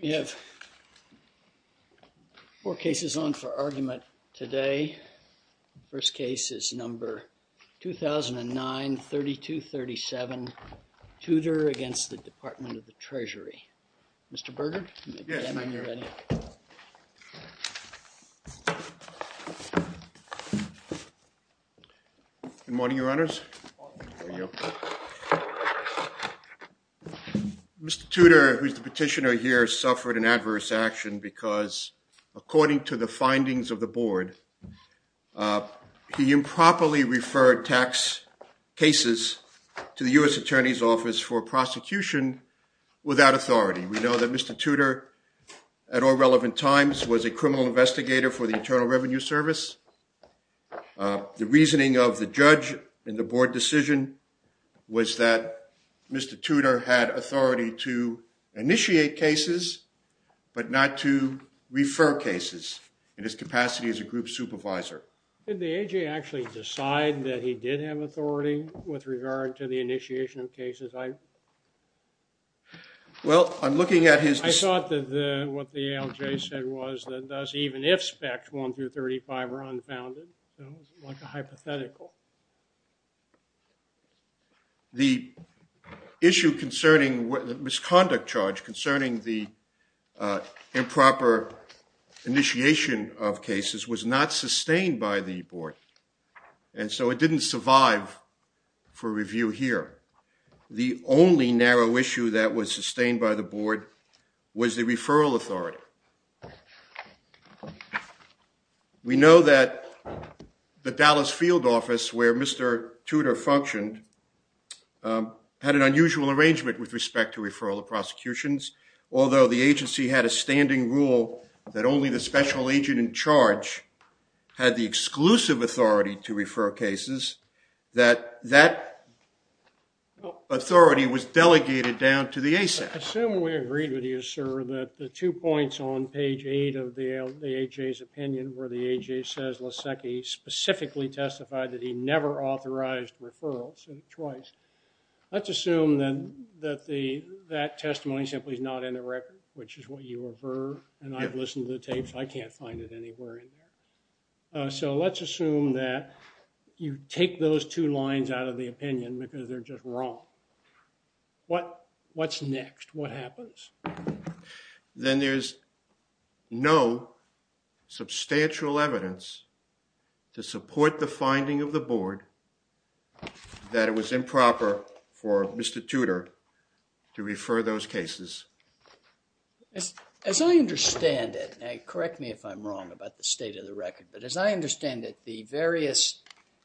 We have four cases on for argument today. The first case is number 2009-3237, TUDOR v. THE DEPARTMENT OF THE TREASURY. Mr. Berger, you may begin when you're ready. Good morning, Your Honors. Mr. Tudor, who is the petitioner here, suffered an adverse action because, according to the findings of the Board, he improperly referred tax cases to the U.S. Attorney's Office for prosecution without authority. We know that Mr. Tudor at all relevant times was a criminal investigator for the Internal Revenue Service. The reasoning of the judge in the Board decision was that Mr. Tudor had authority to initiate cases but not to refer cases in his capacity as a group supervisor. Did the A.J. actually decide that he did have authority with regard to the initiation of cases? Well, I'm looking at his... I thought that what the A.L.J. said was that even if Spec. 1-35 are unfounded, like a hypothetical. The issue concerning the misconduct charge concerning the improper initiation of cases was not sustained by the Board, and so it didn't survive for review here. The only narrow issue that was sustained by the Board was the referral authority. We know that the Dallas Field Office, where Mr. Tudor functioned, had an unusual arrangement with respect to referral to prosecutions. Although the agency had a standing rule that only the special agent in charge had the exclusive authority to refer cases, that authority was delegated down to the ASAP. Assuming we agreed with you, sir, that the two points on page 8 of the A.J.'s opinion where the A.J. says Lasecki specifically testified that he never authorized referrals, twice, let's assume that that testimony simply is not in the record, which is what you aver, and I've listened to the tapes. I can't find it anywhere. So let's assume that you take those two lines out of the opinion because they're just wrong. What's next? What happens? Then there's no substantial evidence to support the As I understand it, and correct me if I'm wrong about the state of the record, but as I understand it, the various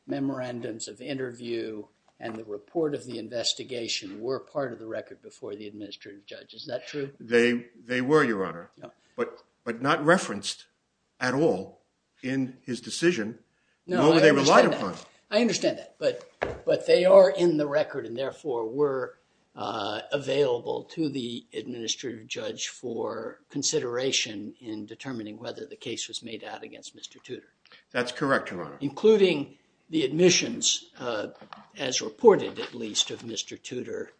memorandums of interview and the report of the investigation were part of the record before the administrative judge. Is that true? They were, Your Honor, but not referenced at all in his decision, nor were they relied upon. I understand that, but they are in the consideration in determining whether the case was made out against Mr. Tudor. That's correct, Your Honor. Including the admissions, as reported at least, of Mr. Tudor,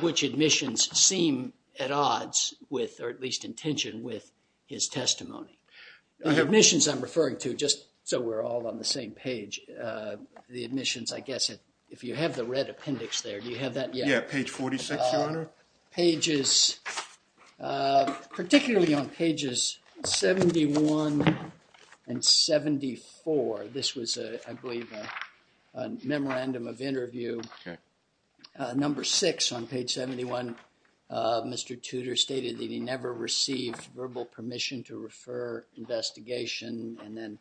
which admissions seem at odds with, or at least in tension with, his testimony. The admissions I'm referring to, just so we're all on the same page, the admissions, I guess, if you have the red appendix there, do you have that yet? Yeah, page 46, Your Honor. Pages, particularly on pages 71 and 74, this was, I believe, a memorandum of interview. Okay. Number six on page 71, Mr. Tudor stated that he never received verbal permission to refer investigation, and then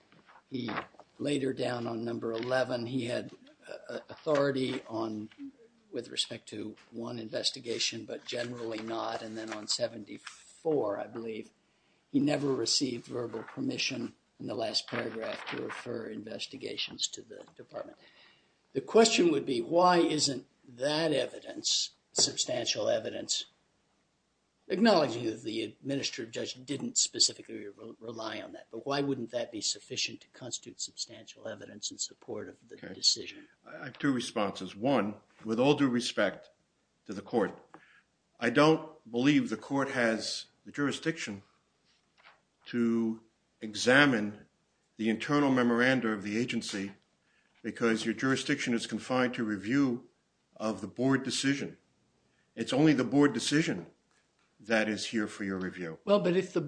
he, later down on number 11, he had authority on, with respect to one investigation, but generally not, and then on 74, I believe, he never received verbal permission in the last paragraph to refer investigations to the department. The question would be, why isn't that evidence, substantial evidence, acknowledging that the administrative judge didn't specifically rely on that, but why wouldn't that be sufficient to I have two responses. One, with all due respect to the court, I don't believe the court has the jurisdiction to examine the internal memoranda of the agency because your jurisdiction is confined to review of the board decision. It's only the board decision that is here for your review. Well, but if the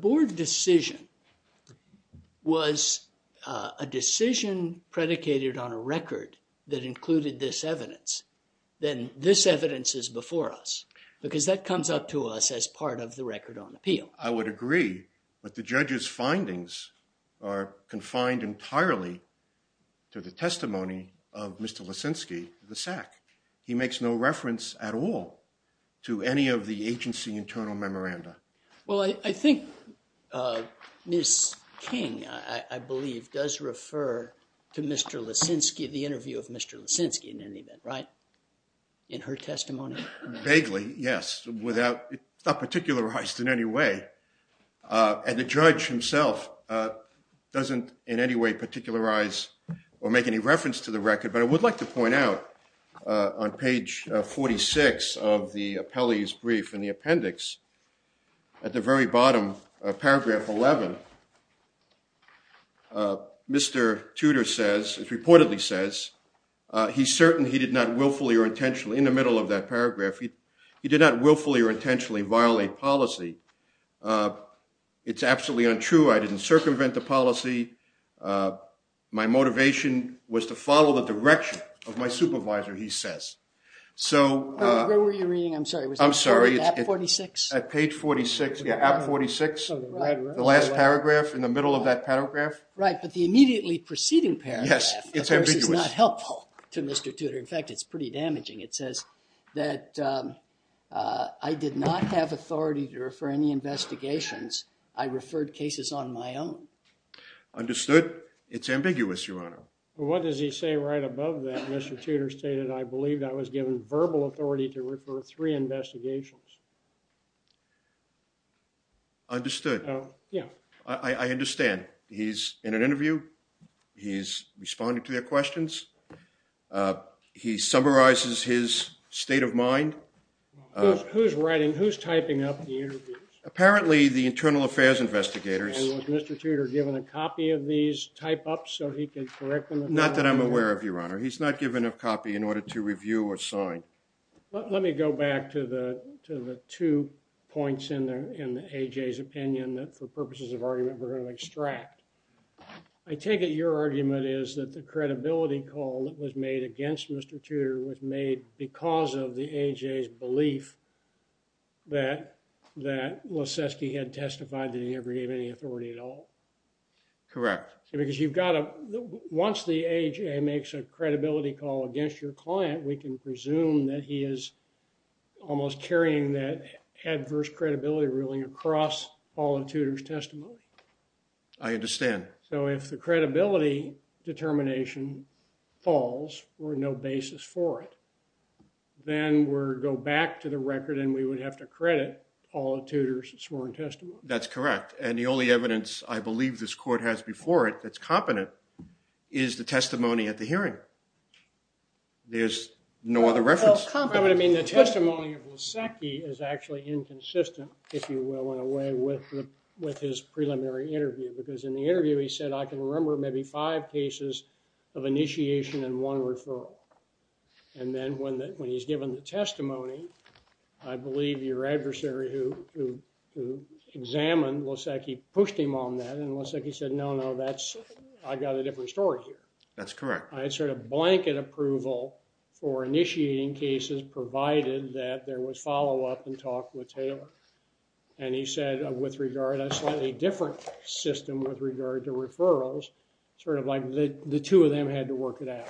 included this evidence, then this evidence is before us, because that comes up to us as part of the record on appeal. I would agree, but the judge's findings are confined entirely to the testimony of Mr. Lisinski, the SAC. He makes no reference at all to any of the agency internal memoranda. Well, I think Ms. King, I believe, does refer to Mr. Lisinski, the interview of Mr. Lisinski, in any event, right? In her testimony? Vaguely, yes, without, it's not particularized in any way, and the judge himself doesn't in any way particularize or make any reference to the record, but I would like to At the very bottom of paragraph 11, Mr. Tudor says, it's reportedly says, he's certain he did not willfully or intentionally, in the middle of that paragraph, he did not willfully or intentionally violate policy. It's absolutely untrue. I didn't circumvent the policy. My motivation was to follow the direction of my supervisor, he says. So, where were you reading? I'm sorry. I'm sorry. At 46? At page 46. Yeah, at 46. The last paragraph in the middle of that paragraph. Right, but the immediately preceding paragraph, of course, is not helpful to Mr. Tudor. In fact, it's pretty damaging. It says that I did not have authority to refer any investigations. I referred cases on my own. Understood. It's ambiguous, Your Honor. Well, what does he say right above that? Mr. Tudor stated, I believe I was given verbal authority to refer three investigations. Understood. Oh, yeah. I understand. He's in an interview. He's responding to their questions. He summarizes his state of mind. Who's writing? Who's typing up the interviews? Apparently, the internal affairs investigators. And was Mr. Tudor given a copy of these type-ups so he could correct them? Not that I'm aware of, Your Honor. He's not given a copy in order to review or sign. Let me go back to the two points in AJ's opinion that, for purposes of argument, we're going to extract. I take it your argument is that the credibility call that was made against Mr. Tudor was made because of the AJ's belief that Leskoski had testified that he never gave any authority at all. Correct. Because you've got to, once the AJ makes a credibility call against your client, we can presume that he is almost carrying that adverse credibility ruling across all of Tudor's testimony. I understand. So if the credibility determination falls, or no basis for it, then we go back to the record and we would have to credit all of Tudor's sworn testimony. That's correct. And the only evidence I believe this court has before it that's competent is the testimony at the hearing. There's no other reference. I mean, the testimony of Leskoski is actually inconsistent, if you will, in a way with his preliminary interview. Because in the interview he said, I can remember maybe five cases of initiation and one referral. And then when he's given the testimony, I believe your adversary who examined Leskoski pushed him on that and Leskoski said, no, no, I've got a different story here. That's correct. I had sort of blanket approval for initiating cases provided that there was follow-up and talk with Taylor. And he said with regard, a slightly different system with regard to referrals, sort of like the two of them had to work it out.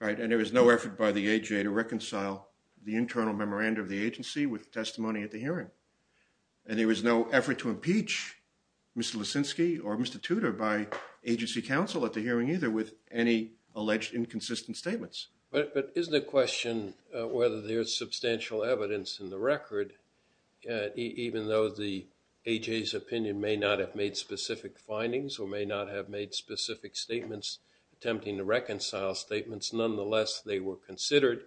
Right, and there was no effort by the AJ to reconcile the internal memoranda of the agency with testimony at the hearing. And there was no effort to impeach Mr. Leskoski or Mr. Tudor by agency counsel at the hearing either with any alleged inconsistent statements. But is the question whether there's substantial evidence in the record, even though the AJ's opinion may not have made specific findings or may not have made specific statements attempting to reconcile statements, nonetheless they were considered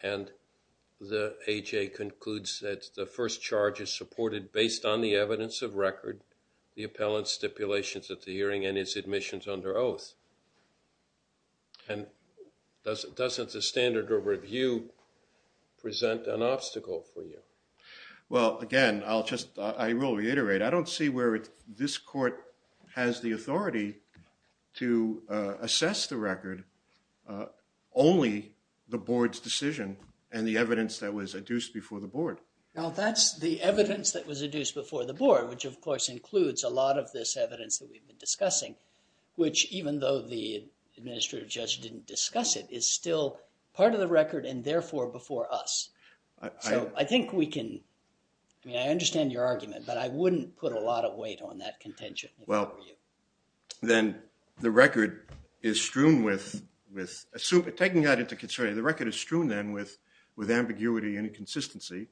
and the AJ concludes that the first charge is supported based on the evidence of record, the appellant stipulations at the hearing and his admissions under oath. And doesn't the standard of review present an obstacle for you? Well again, I'll just, I will reiterate, I don't see where this court has the authority to assess the record, only the board's decision and the evidence that was adduced before the board. Now that's the evidence that was adduced before the board, which of course includes a lot of this evidence that we've been discussing, which even though the administrative judge didn't discuss it is still part of the record and therefore before us. So I think we can, I mean I understand your argument, but I wouldn't put a lot of weight on that contention. Well then the record is strewn with, with assuming, taking that into consideration, the record is strewn then with ambiguity and inconsistency.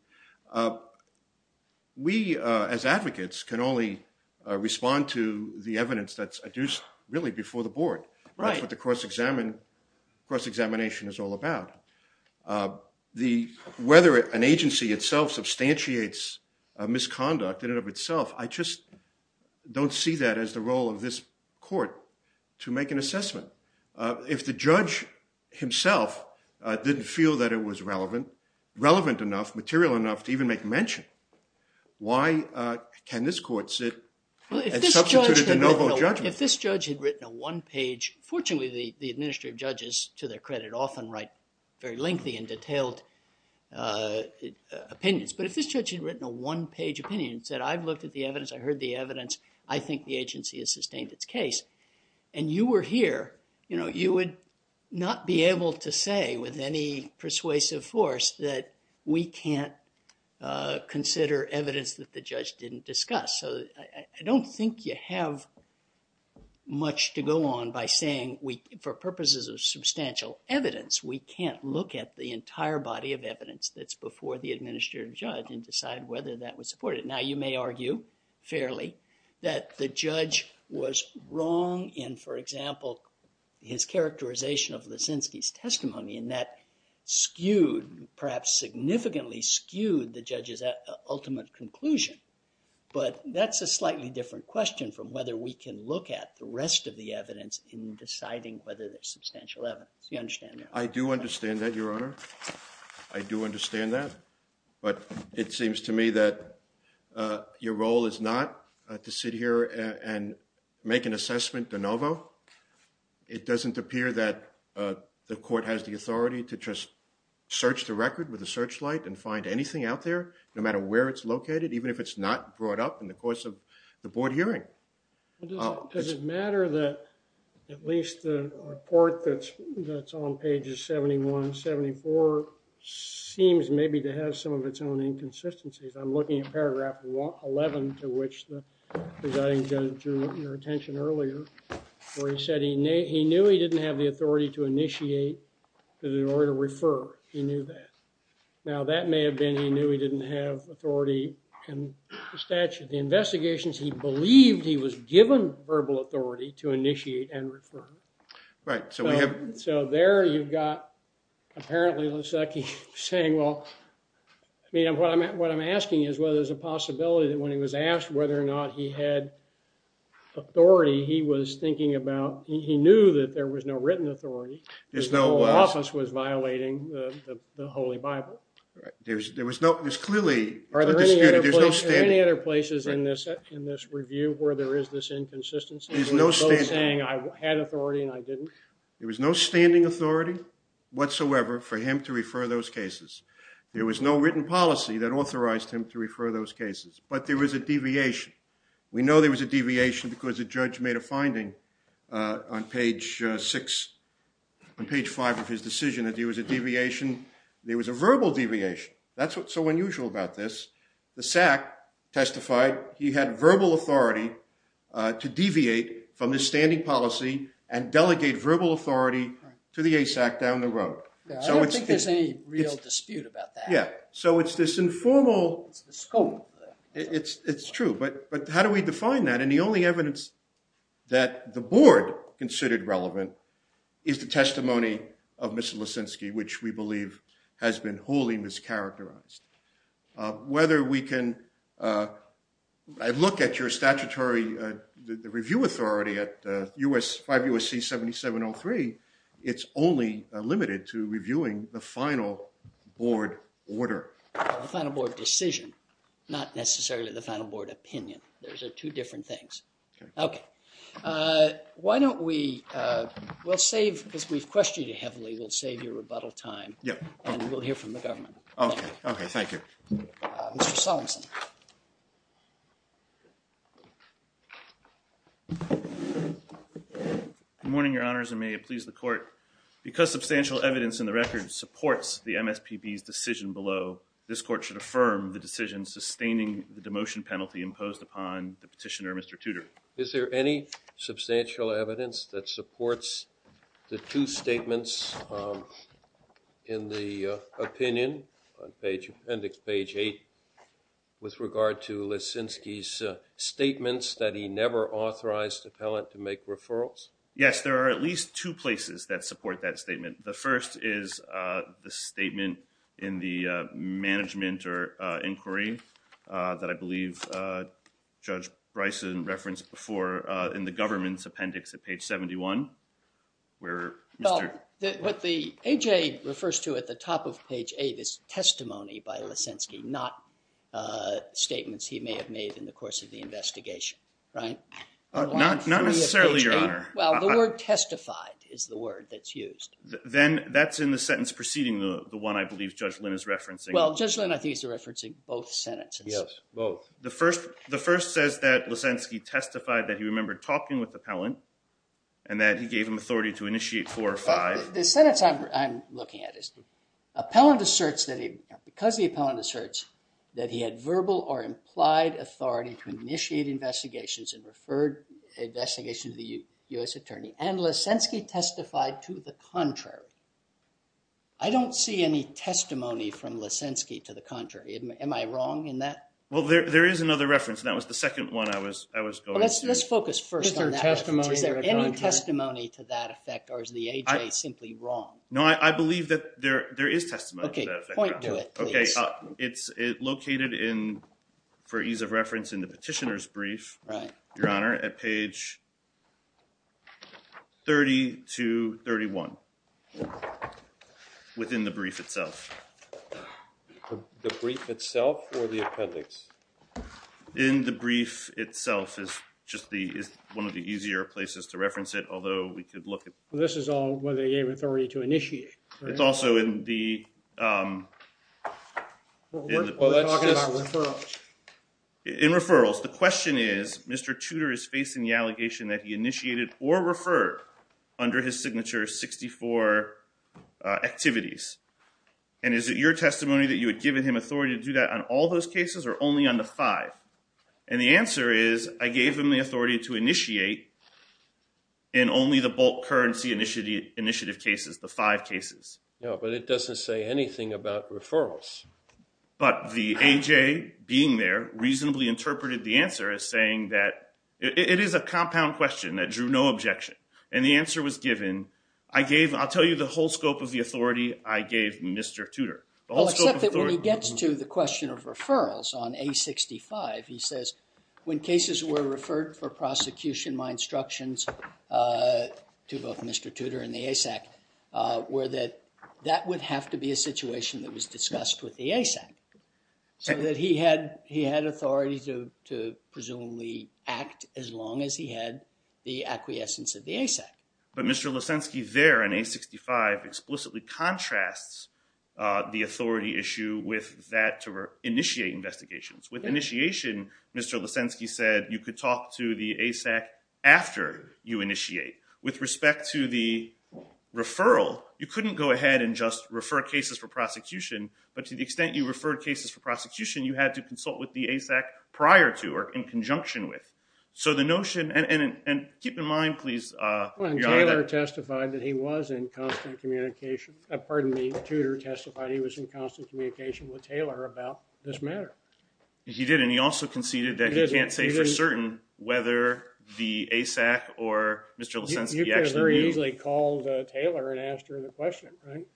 We as advocates can only respond to the evidence that's adduced really before the board. That's what the cross-examination is all about. Whether an agency itself substantiates a misconduct in and of itself, I just don't see that as the role of this court to make an assessment. If the judge himself didn't feel that it was relevant, relevant enough, material enough to even make mention, why can this court sit and substitute it to no hold judgment? If this judge had written a one-page, fortunately the administrative judges to their credit often write very lengthy and detailed opinions, but if this judge had written a one-page opinion and said I've looked at the evidence, I heard the evidence, I think the agency has sustained its case, and you were here, you know, you would not be able to say with any persuasive force that we can't consider evidence that the judge didn't discuss. So I don't think you have much to go on by saying we, for purposes of substantial evidence, we can't look at the entire body of evidence that's before the administrative judge and decide whether that was supported. Now you may argue fairly that the judge was wrong in, for example, his characterization of Leszczynski's testimony and that skewed, perhaps significantly skewed, the judge's ultimate conclusion, but that's a slightly different question from whether we can look at the rest of the evidence in deciding whether there's substantial evidence. You understand? I do understand that, your honor. I do understand that, but it seems to me that your role is not to sit here and make an assessment de novo. It doesn't appear that the court has the authority to just search the record with a searchlight and find anything out there, no matter where it's located, even if it's not brought up in the course of the board hearing. Does it matter that at least the report that's on pages 71, 74 seems maybe to have some of its own inconsistencies? I'm looking at paragraph 11, to which the presiding judge drew your attention earlier, where he said he knew he didn't have the authority to initiate or to refer. He knew that. Now that may have been he knew he believed he was given verbal authority to initiate and refer. Right, so there you've got apparently Lasecki saying, well, you know, what I'm asking is whether there's a possibility that when he was asked whether or not he had authority, he was thinking about, he knew that there was no written authority. His whole office was violating the Holy Bible. Right, there was no, there's any other places in this in this review where there is this inconsistency, there's no saying I had authority and I didn't. There was no standing authority whatsoever for him to refer those cases. There was no written policy that authorized him to refer those cases, but there was a deviation. We know there was a deviation because the judge made a finding on page six, on page five of his decision, that there was a deviation, there was a verbal deviation. That's what's so unusual about this. The SAC testified he had verbal authority to deviate from the standing policy and delegate verbal authority to the ASAC down the road. I don't think there's any real dispute about that. Yeah, so it's this informal scope. It's true, but how do we define that? And the only evidence that the board considered relevant is the testimony of Mr. Lissinsky, which we believe has been wholly mischaracterized. Whether we can look at your statutory, the review authority at 5 U.S.C. 7703, it's only limited to reviewing the final board order. The final board decision, not necessarily the final board opinion. Those are the only two that we can look at. Okay, thank you. Mr. Solomonson. Good morning, your honors, and may it please the court. Because substantial evidence in the record supports the MSPB's decision below, this court should affirm the decision sustaining the demotion penalty imposed upon the petitioner, Mr. Tudor. Is there any substantial evidence that in the opinion on page, appendix page 8, with regard to Lissinsky's statements that he never authorized appellant to make referrals? Yes, there are at least two places that support that statement. The first is the statement in the management or inquiry that I believe Judge what the AJ refers to at the top of page 8 is testimony by Lissinsky, not statements he may have made in the course of the investigation, right? Not necessarily, your honor. Well, the word testified is the word that's used. Then that's in the sentence preceding the one I believe Judge Lynn is referencing. Well, Judge Lynn, I think he's referencing both sentences. Yes, both. The first says that Lissinsky testified that he remembered talking with the appellant and that he gave him authority to initiate four or five. The sentence I'm looking at is appellant asserts that because the appellant asserts that he had verbal or implied authority to initiate investigations and referred investigation to the U.S. attorney and Lissinsky testified to the contrary. I don't see any testimony from Lissinsky to the contrary. Am I wrong in that? Well, there is another reference and that was the second one I was going to. Let's focus first on that. Is there any testimony to that effect or is the AJ simply wrong? No, I believe that there is testimony to that effect. Okay, point to it, please. Okay, it's located in, for ease of reference, in the petitioner's brief, your honor, at page 30 to 31 within the brief itself. The brief itself or the appendix? In the brief itself is just the, is one of the easier places to reference it, although we could look at. This is all where they gave authority to initiate. It's also in the, in referrals. The question is Mr. Tudor is facing the allegation that he initiated or referred under his signature 64 activities and is it your testimony that you had given him authority to do that on all those cases or only on the five? And the answer is I gave him the authority to initiate in only the bulk currency initiative cases, the five cases. Yeah, but it doesn't say anything about referrals. But the AJ being there reasonably interpreted the answer as saying that it is a compound question that drew no objection and the answer was given. I gave, I'll tell you the whole of referrals on a 65, he says when cases were referred for prosecution, my instructions to both Mr. Tudor and the ASAC were that that would have to be a situation that was discussed with the ASAC so that he had, he had authority to, to presumably act as long as he had the acquiescence of the ASAC. But Mr. Lesenski there in a 65 explicitly contrasts the authority issue with that to initiate investigations. With initiation, Mr. Lesenski said you could talk to the ASAC after you initiate. With respect to the referral, you couldn't go ahead and just refer cases for prosecution, but to the extent you referred cases for prosecution, you had to consult with the ASAC prior to or in conjunction with. So the notion and, and, and keep in mind please. When Taylor testified that he was in constant communication, pardon me, Tudor testified he was in constant communication with Taylor about this matter. He did and he also conceded that he can't say for certain whether the ASAC or Mr. Lesenski actually. You could have very easily called Taylor and asked her the question, right?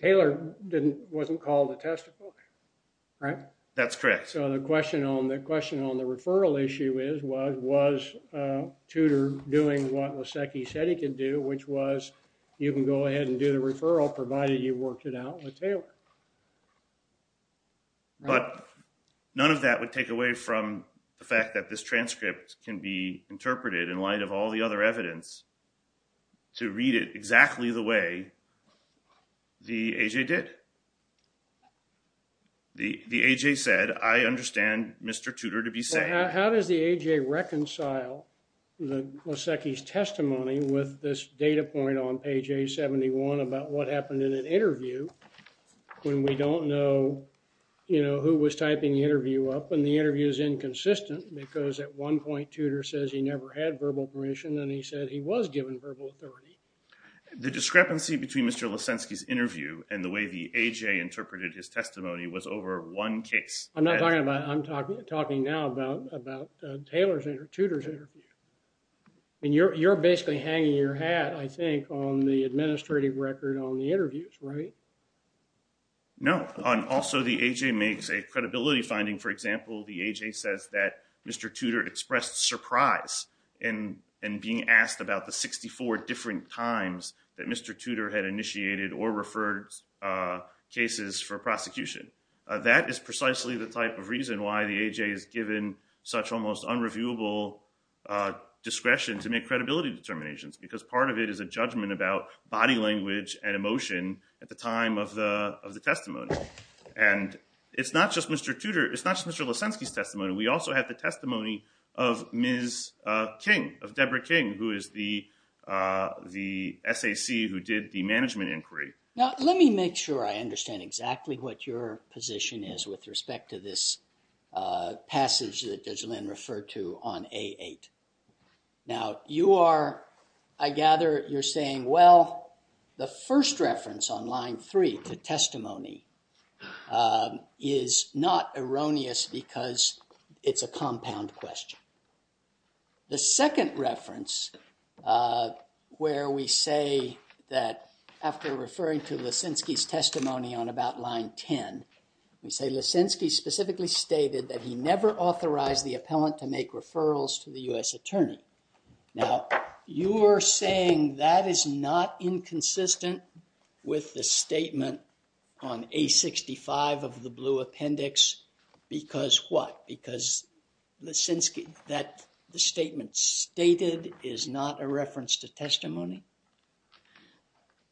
Taylor didn't, wasn't called to testify, right? That's correct. So the question on, the question on the referral issue is was, was Tudor doing what Lesenski said he can do, which was you can go ahead and do the referral provided you worked it out with Taylor. But none of that would take away from the fact that this transcript can be interpreted in light of all the other evidence to read it exactly the way the AJ did. The, the AJ said, I understand Mr. Tudor to be saying. How does the AJ reconcile the Lesenski's testimony with this data point on page A71 about what happened in an interview when we don't know, you know, who was typing the interview up and the interview is inconsistent because at one point Tudor says he never had verbal permission and he said he was given verbal authority. The discrepancy between Mr. Lesenski's interview and the way the AJ interpreted his testimony was over one case. I'm not talking about, I'm talking, talking now about, about Taylor's interview, Tudor's interview. And you're, you're basically hanging your hat, I think, on the administrative record on the interviews, right? No. Also the AJ makes a credibility finding. For example, the AJ says that Mr. Tudor expressed surprise in, in being asked about the 64 different times that Mr. Tudor had initiated or referred cases for prosecution. That is precisely the type of reason why the AJ is given such almost unreviewable, uh, discretion to make credibility determinations because part of it is a judgment about body language and emotion at the time of the, of the testimony. And it's not just Mr. Tudor, it's not just Mr. Lesenski's testimony. We also have the testimony of Ms. King, of Deborah King, who is the, uh, the SAC who did the management inquiry. Now, let me make sure I referred to on A8. Now you are, I gather you're saying, well, the first reference on line three to testimony, um, is not erroneous because it's a compound question. The second reference, uh, where we say that after referring to Lesenski's testimony on about line 10, we say Lesenski specifically stated that he never authorized the appellant to make referrals to the U.S. attorney. Now you are saying that is not inconsistent with the statement on A65 of the blue appendix because what? Because Lesenski, that the statement stated is not a reference to testimony?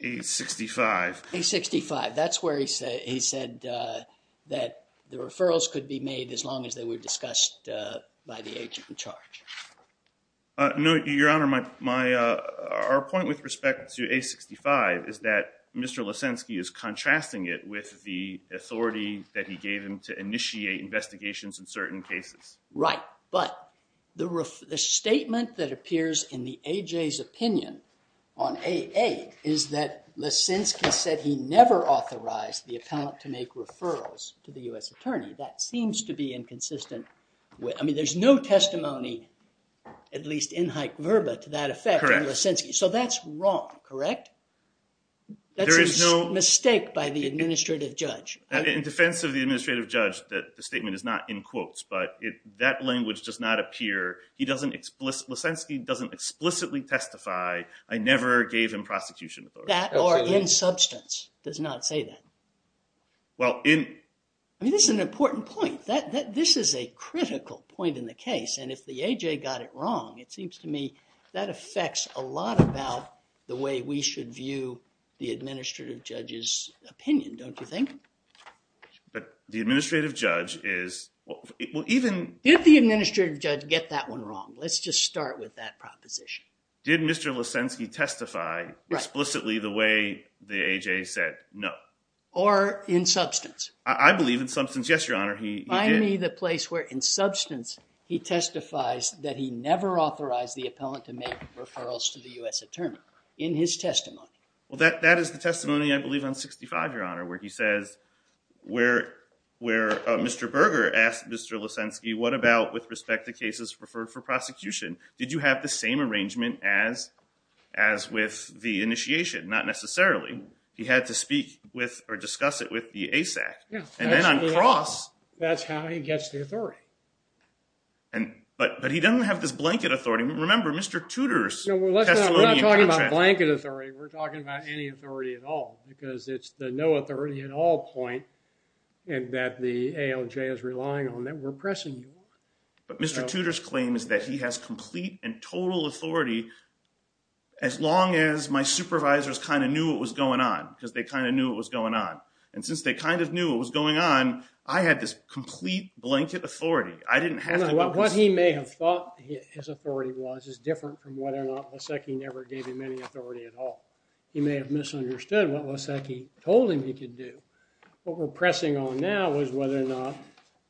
A65. A65. That's where he said, he said, uh, that the referrals could be made as long as they were discussed, uh, by the agent in charge. Uh, no, your honor. My, my, uh, our point with respect to A65 is that Mr. Lesenski is contrasting it with the authority that he gave him to initiate investigations in certain cases. Right. But the ref, the statement that appears in the opinion on AA is that Lesenski said he never authorized the appellant to make referrals to the U.S. attorney. That seems to be inconsistent with, I mean, there's no testimony, at least in Hike-Verba to that effect in Lesenski. So that's wrong, correct? There is no. That's a mistake by the administrative judge. In defense of the administrative judge, that the statement is not in quotes, but it, that language does not appear. He doesn't explicitly, Lesenski doesn't explicitly testify, I never gave him prosecution authority. That or in substance does not say that. Well, in. I mean, this is an important point. That, that, this is a critical point in the case. And if the AJ got it wrong, it seems to me that affects a lot about the way we should view the administrative judge's opinion, don't you think? But the administrative judge is, well, even. Did the administrative judge get that one wrong? Let's just start with that proposition. Did Mr. Lesenski testify explicitly the way the AJ said no? Or in substance? I believe in substance, yes, your honor, he did. Find me the place where in substance he testifies that he never authorized the appellant to make referrals to the U.S. attorney in his testimony. Well, that, that testimony, I believe on 65, your honor, where he says, where, where Mr. Berger asked Mr. Lesenski, what about with respect to cases referred for prosecution? Did you have the same arrangement as, as with the initiation? Not necessarily. He had to speak with or discuss it with the ASAP. Yeah. And then on cross. That's how he gets the authority. And, but, but he doesn't have this blanket authority. Remember Mr. Tudor's testimony. Blanket authority. We're talking about any authority at all because it's the no authority at all point and that the ALJ is relying on that we're pressing. But Mr. Tudor's claim is that he has complete and total authority. As long as my supervisors kind of knew what was going on, because they kind of knew what was going on. And since they kind of knew what was going on, I had this complete blanket authority. I didn't have to. What he may have thought his authority was is different from whether or not Lesenski never gave him any authority at all. He may have misunderstood what Lesenski told him he could do. What we're pressing on now was whether or not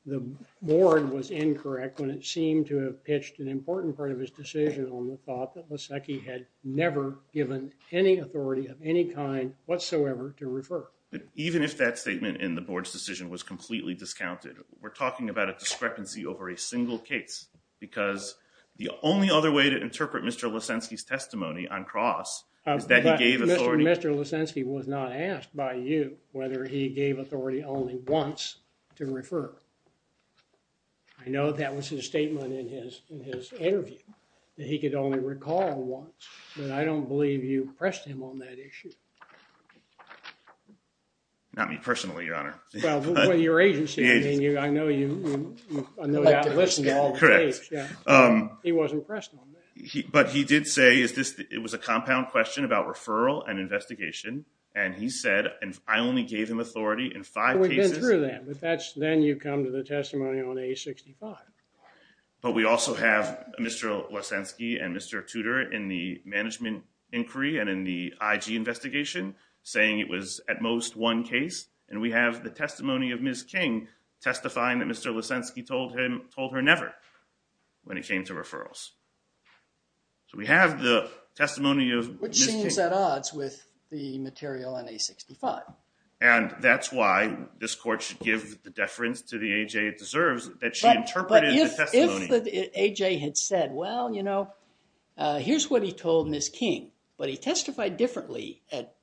the board was incorrect when it seemed to have pitched an important part of his decision on the thought that Lesenski had never given any authority of any kind whatsoever to refer. Even if that statement in the board's decision was completely discounted, we're talking about a discrepancy over a single case because the only other way to interpret Mr. Lesenski's testimony on cross is that he gave authority. Mr. Lesenski was not asked by you whether he gave authority only once to refer. I know that was his statement in his interview that he could only recall once, but I don't believe you pressed him on that issue. Not me personally, your honor. Well, with your agency, I know you listened to all the tapes. He wasn't pressed on that. But he did say it was a compound question about referral and investigation, and he said, and I only gave him authority in five cases. We've been through that, but then you come to the testimony on A-65. But we also have Mr. Lesenski and Mr. Tudor in the management inquiry and in the IG investigation saying it was at most one case, and we have the testimony of Ms. King testifying that Mr. Lesenski told her never when it came to referrals. So we have the testimony of Ms. King. Which seems at odds with the material on A-65. And that's why this court should give the deference to the A.J. it deserves that she interpreted the testimony. But if the A.J. had said, well, you know, here's what he told Ms. King, but he testified differently at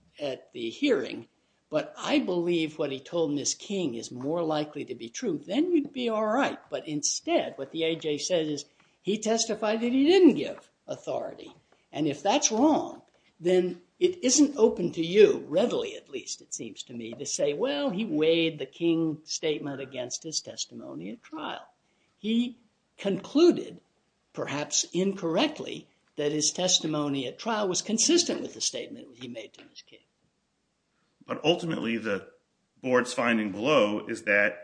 the hearing. But I believe what he told Ms. King is more likely to be true, then you'd be all right. But instead, what the A.J. says is he testified that he didn't give authority. And if that's wrong, then it isn't open to you, readily at least it seems to me, to say, well, he weighed the King statement against his testimony at trial. He concluded, perhaps incorrectly, that his testimony at trial was consistent with the statement he made to Ms. King. But ultimately, the board's finding below is that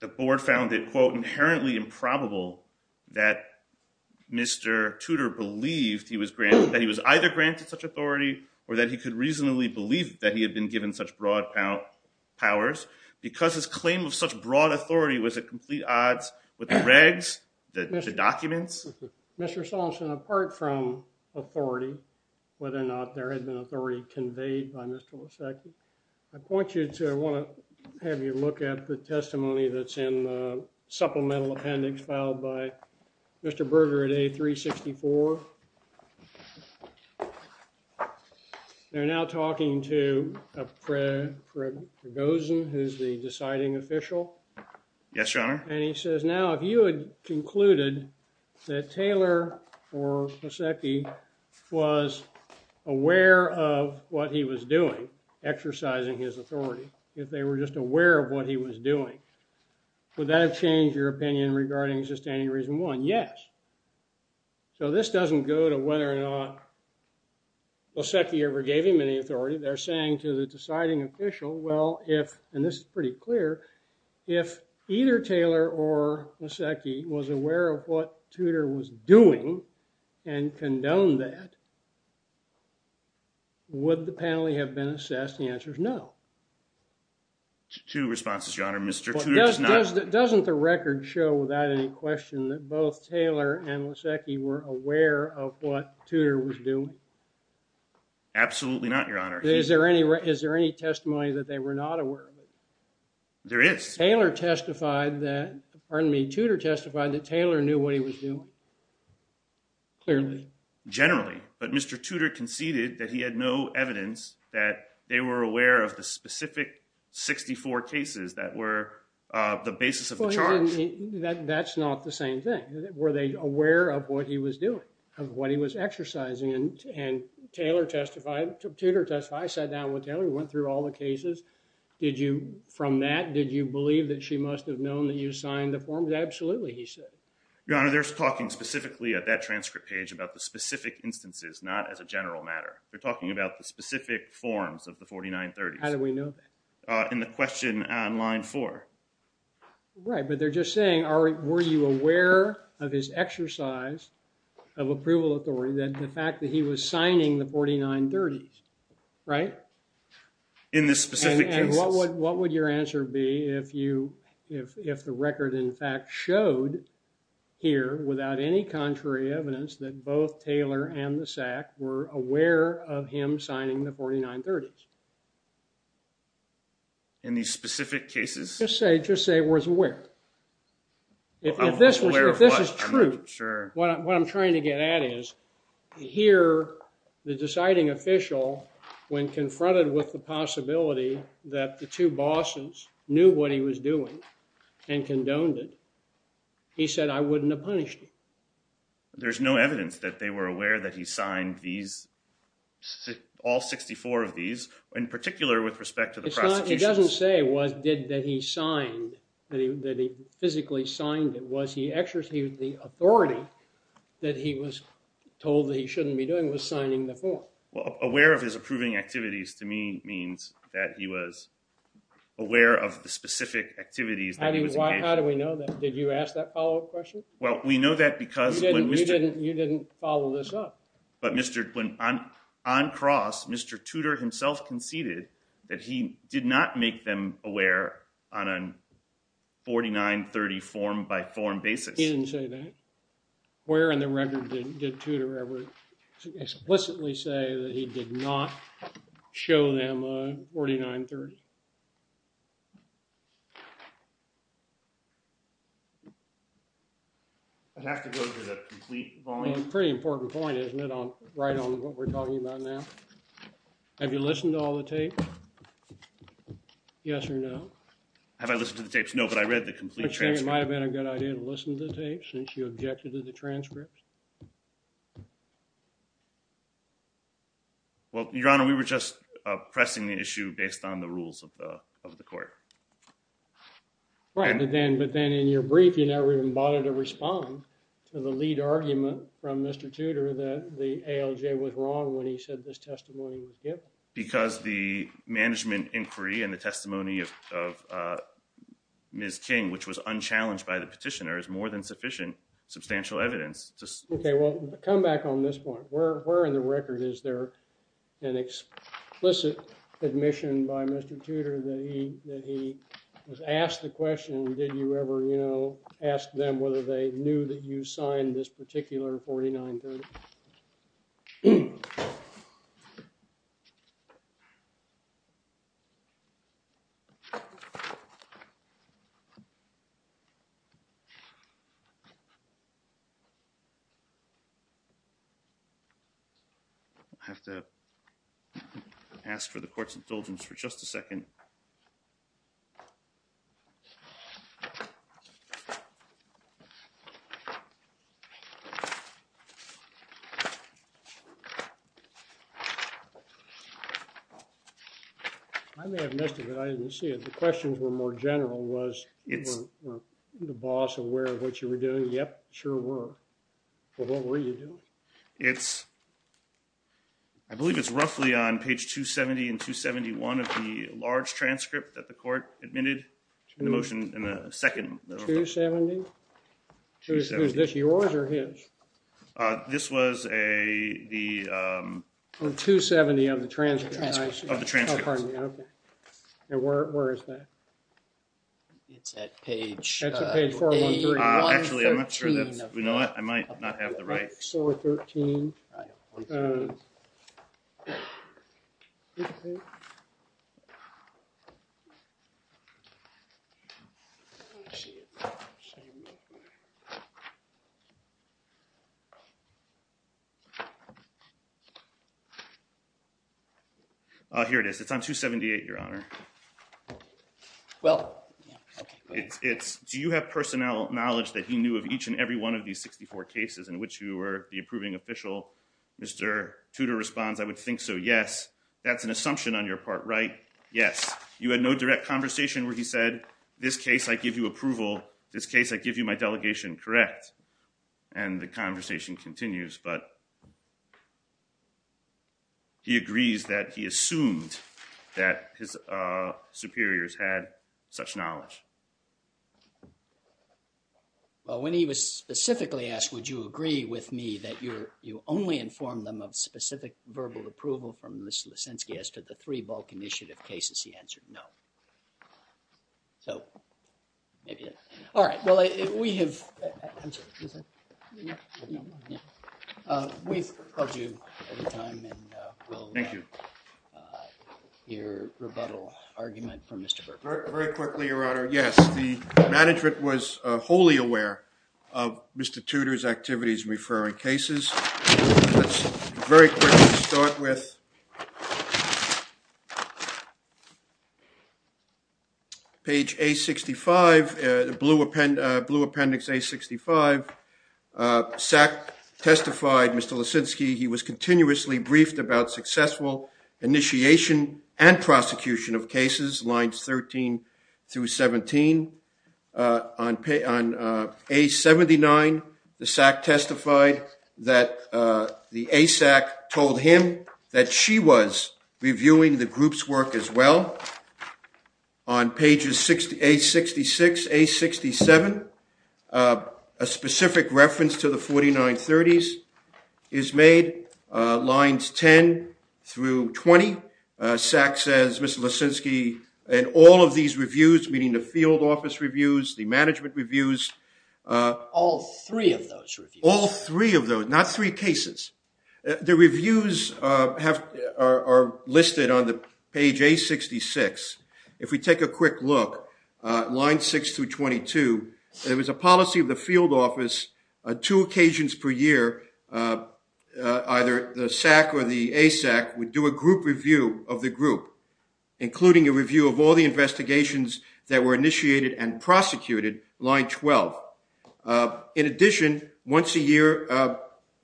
the board found it, quote, inherently improbable that Mr. Tudor believed he was either granted such authority or that he could reasonably believe that he had been given such broad powers, because his claim of such broad authority was at complete odds with the regs, the documents. Mr. Salson, apart from authority, whether or not there had been authority conveyed by Mr. Losecki, I point you to, I want to have you look at the testimony that's in the supplemental appendix filed by Mr. Berger at A-364. They're now talking to Fred Gosen, who's the deciding official. Yes, Your Honor. And he says, now, if you had concluded that Taylor or Losecki was aware of what he was doing, exercising his authority, if they were just aware of what he was doing, would that have changed your opinion regarding sustaining reason one? Yes. So this doesn't go to whether or not Losecki ever gave him any authority. They're saying to the deciding official, well, if, and this is pretty clear, if either Taylor or Losecki was aware of what Tudor was doing and condoned that, would the penalty have been assessed? The answer is no. Two responses, Your Honor. Mr. Tudor does not... Doesn't the record show without any question that both Taylor and Losecki were aware of what Tudor was doing? Absolutely not, Your Honor. Is there any, is there any testimony that they were not aware of? There is. Taylor testified that, pardon me, Tudor testified that Taylor knew what he was doing. Clearly. Generally. But Mr. Tudor conceded that he had no evidence that they were aware of the specific 64 cases that were the basis of the charge. That's not the same thing. Were they aware of what he was doing, of what he was exercising? And Taylor testified, Tudor testified, I sat down with Taylor, we went through all the cases. Did you, from that, did you believe that she must have known that you signed the forms? Absolutely, he said. Your Honor, they're talking specifically at that transcript page about the specific instances, not as a general matter. They're talking about the specific forms of the 4930s. How do we know that? In the question on line four. Right, but they're just saying, are, were you aware of his exercise of approval authority, that the fact that he was signing the 4930s, right? In this specific case. And what would, what would your answer be if you, if, if the record in fact showed here without any contrary evidence that both Taylor and the SAC were aware of him signing the 4930s? In these specific cases? Just say, just say was aware. If this was, if this is true. Sure. What I'm trying to get at is, here, the deciding official, when confronted with the possibility that the two bosses knew what he was doing and condoned it, he said, I wouldn't have punished him. There's no evidence that they were aware that he signed these, all 64 of these, in particular with respect to the prosecution. It's not, he doesn't say was, did, that he signed, that he, that he physically signed it. Was he exercising the authority that he was told that he shouldn't be doing was signing the form? Well, aware of his approving activities to me means that he was aware of the specific activities. How do you, how do we know that? Did you ask that follow-up question? Well, we know that because when we didn't, you didn't follow this up. But Mr., when on, on cross, Mr. Tudor himself conceded that he did not make them aware on a 4930 form by form basis. He didn't say that? Where in the record did, did Tudor ever explicitly say that he did not show them a 4930? I'd have to go to the complete volume. Pretty important point, isn't it, on, right on what we're talking about now? Have you listened to all the tape? Yes or no? Have I listened to the tapes? No, but I read the complete transcript. It might have been a good idea to listen to the tapes since you objected to the transcripts. Well, Your Honor, we were just, uh, pressing the issue based on the rules of the, of the court. Right, but then, but then in your brief, you never even bothered to respond to the lead argument from Mr. Tudor that the ALJ was wrong when he said this testimony was uh, Ms. King, which was unchallenged by the petitioner, is more than sufficient, substantial evidence. Okay, well, come back on this point. Where, where in the record is there an explicit admission by Mr. Tudor that he, that he was asked the question, did you ever, you know, ask them whether they knew that you signed this particular 4930? I have to ask for the court's indulgence for just a second. I may have missed it, but I didn't see it. The questions were more general, was the boss aware of what you were doing? Yep, sure were. Well, what were you doing? It's, I believe it's roughly on page 270 and 271 of the large transcript that the court admitted in the motion, in the second. 270? 270. Is this yours or his? Uh, this was a, the um, 270 of the transcript. Of the transcript. Oh, pardon me, okay. And where, where is that? It's at page, that's at page 413. Uh, actually, I'm not sure that's, you know what, I might not have the right. 413. Uh, here it is. It's on 278, your honor. Well, it's, it's, do you have personnel knowledge that he knew of each and every one of these 64 cases in which you were the approving official? Mr. Tudor responds, I would think so, yes. That's an assumption on your part, right? Yes. You had no direct conversation where he said, this case I give you approval, this case I give you my delegation, correct? And the conversation continues, but he agrees that he assumed that his, uh, superiors had such knowledge. Well, when he was specifically asked, would you agree with me that you're, you only informed them of specific verbal approval from Mr. Lisinski as to the three bulk initiative cases, he answered no. So, maybe that's, all right, well, we have, I'm sorry, we've called you at the time and we'll hear rebuttal argument from Mr. Berkman. Very quickly, your honor. Yes, the management was wholly aware of Mr. Tudor's activities referring cases. Let's very quickly start with page A65, the blue appendix A65. SAC testified, Mr. Lisinski, he was continuously briefed about that the ASAC told him that she was reviewing the group's work as well. On pages A66, A67, a specific reference to the 4930s is made, lines 10 through 20. SAC says, Mr. Lisinski, in all of these reviews, meaning the field office reviews, the management reviews, all three of those reviews, all three of those, not three cases. The reviews are listed on the page A66. If we take a quick look, line 6 through 22, there was a policy of the field office, two occasions per year, either the SAC or the ASAC would do a group review of the group, including a review of all the investigations that were initiated and prosecuted, line 12. In addition, once a year,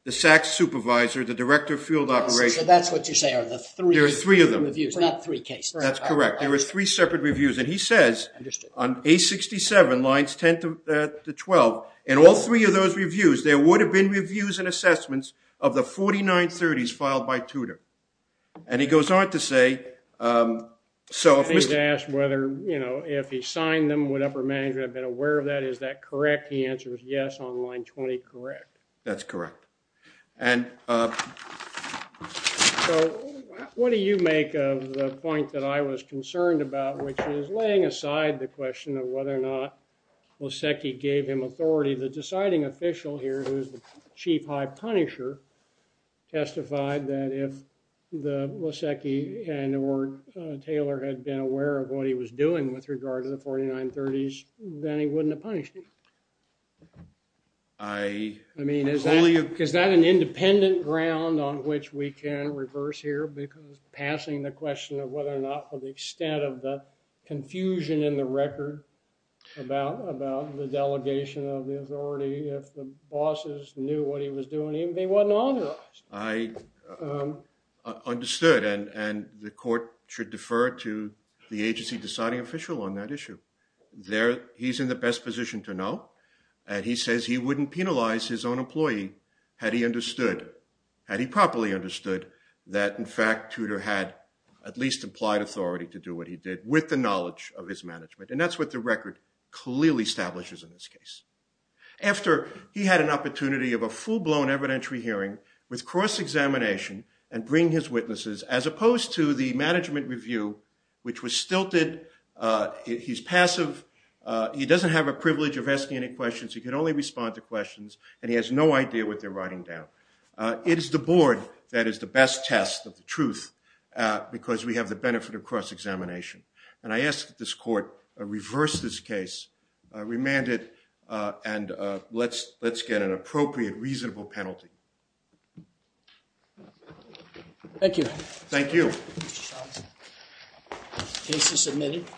the SAC supervisor, the director of field operation. So that's what you say are the three. There are three of them. Reviews, not three cases. That's correct. There were three separate reviews, and he says on A67, lines 10 to 12, in all three of those reviews, there would have been reviews and assessments of the 4930s filed by Tudor. And he goes on to say, so if he's asked whether, you know, if he signed them, would upper management have been aware of that? Is that correct? He answers, yes, on line 20, correct. That's correct. And so what do you make of the point that I was concerned about, which is laying aside the question of whether or not Lasecki gave him authority, the deciding official here, who's chief high punisher, testified that if Lasecki and or Taylor had been aware of what he was doing with regard to the 4930s, then he wouldn't have punished him. I mean, is that an independent ground on which we can reverse here, because passing the question of whether or not, for the knew what he was doing, he wasn't on it? I understood, and the court should defer to the agency deciding official on that issue. There, he's in the best position to know, and he says he wouldn't penalize his own employee had he understood, had he properly understood, that in fact, Tudor had at least implied authority to do what he did with the knowledge of his management. And that's what the record clearly establishes in this case. After he had an opportunity of a full-blown evidentiary hearing with cross-examination and bring his witnesses, as opposed to the management review, which was stilted. He's passive. He doesn't have a privilege of asking any questions. He can only respond to questions, and he has no idea what they're writing down. It is the board that is the best test of the truth, because we have the benefit of cross-examination. And I ask that this court reverse this case, remand it, and let's get an appropriate, reasonable penalty. Thank you. Thank you. Case is submitted.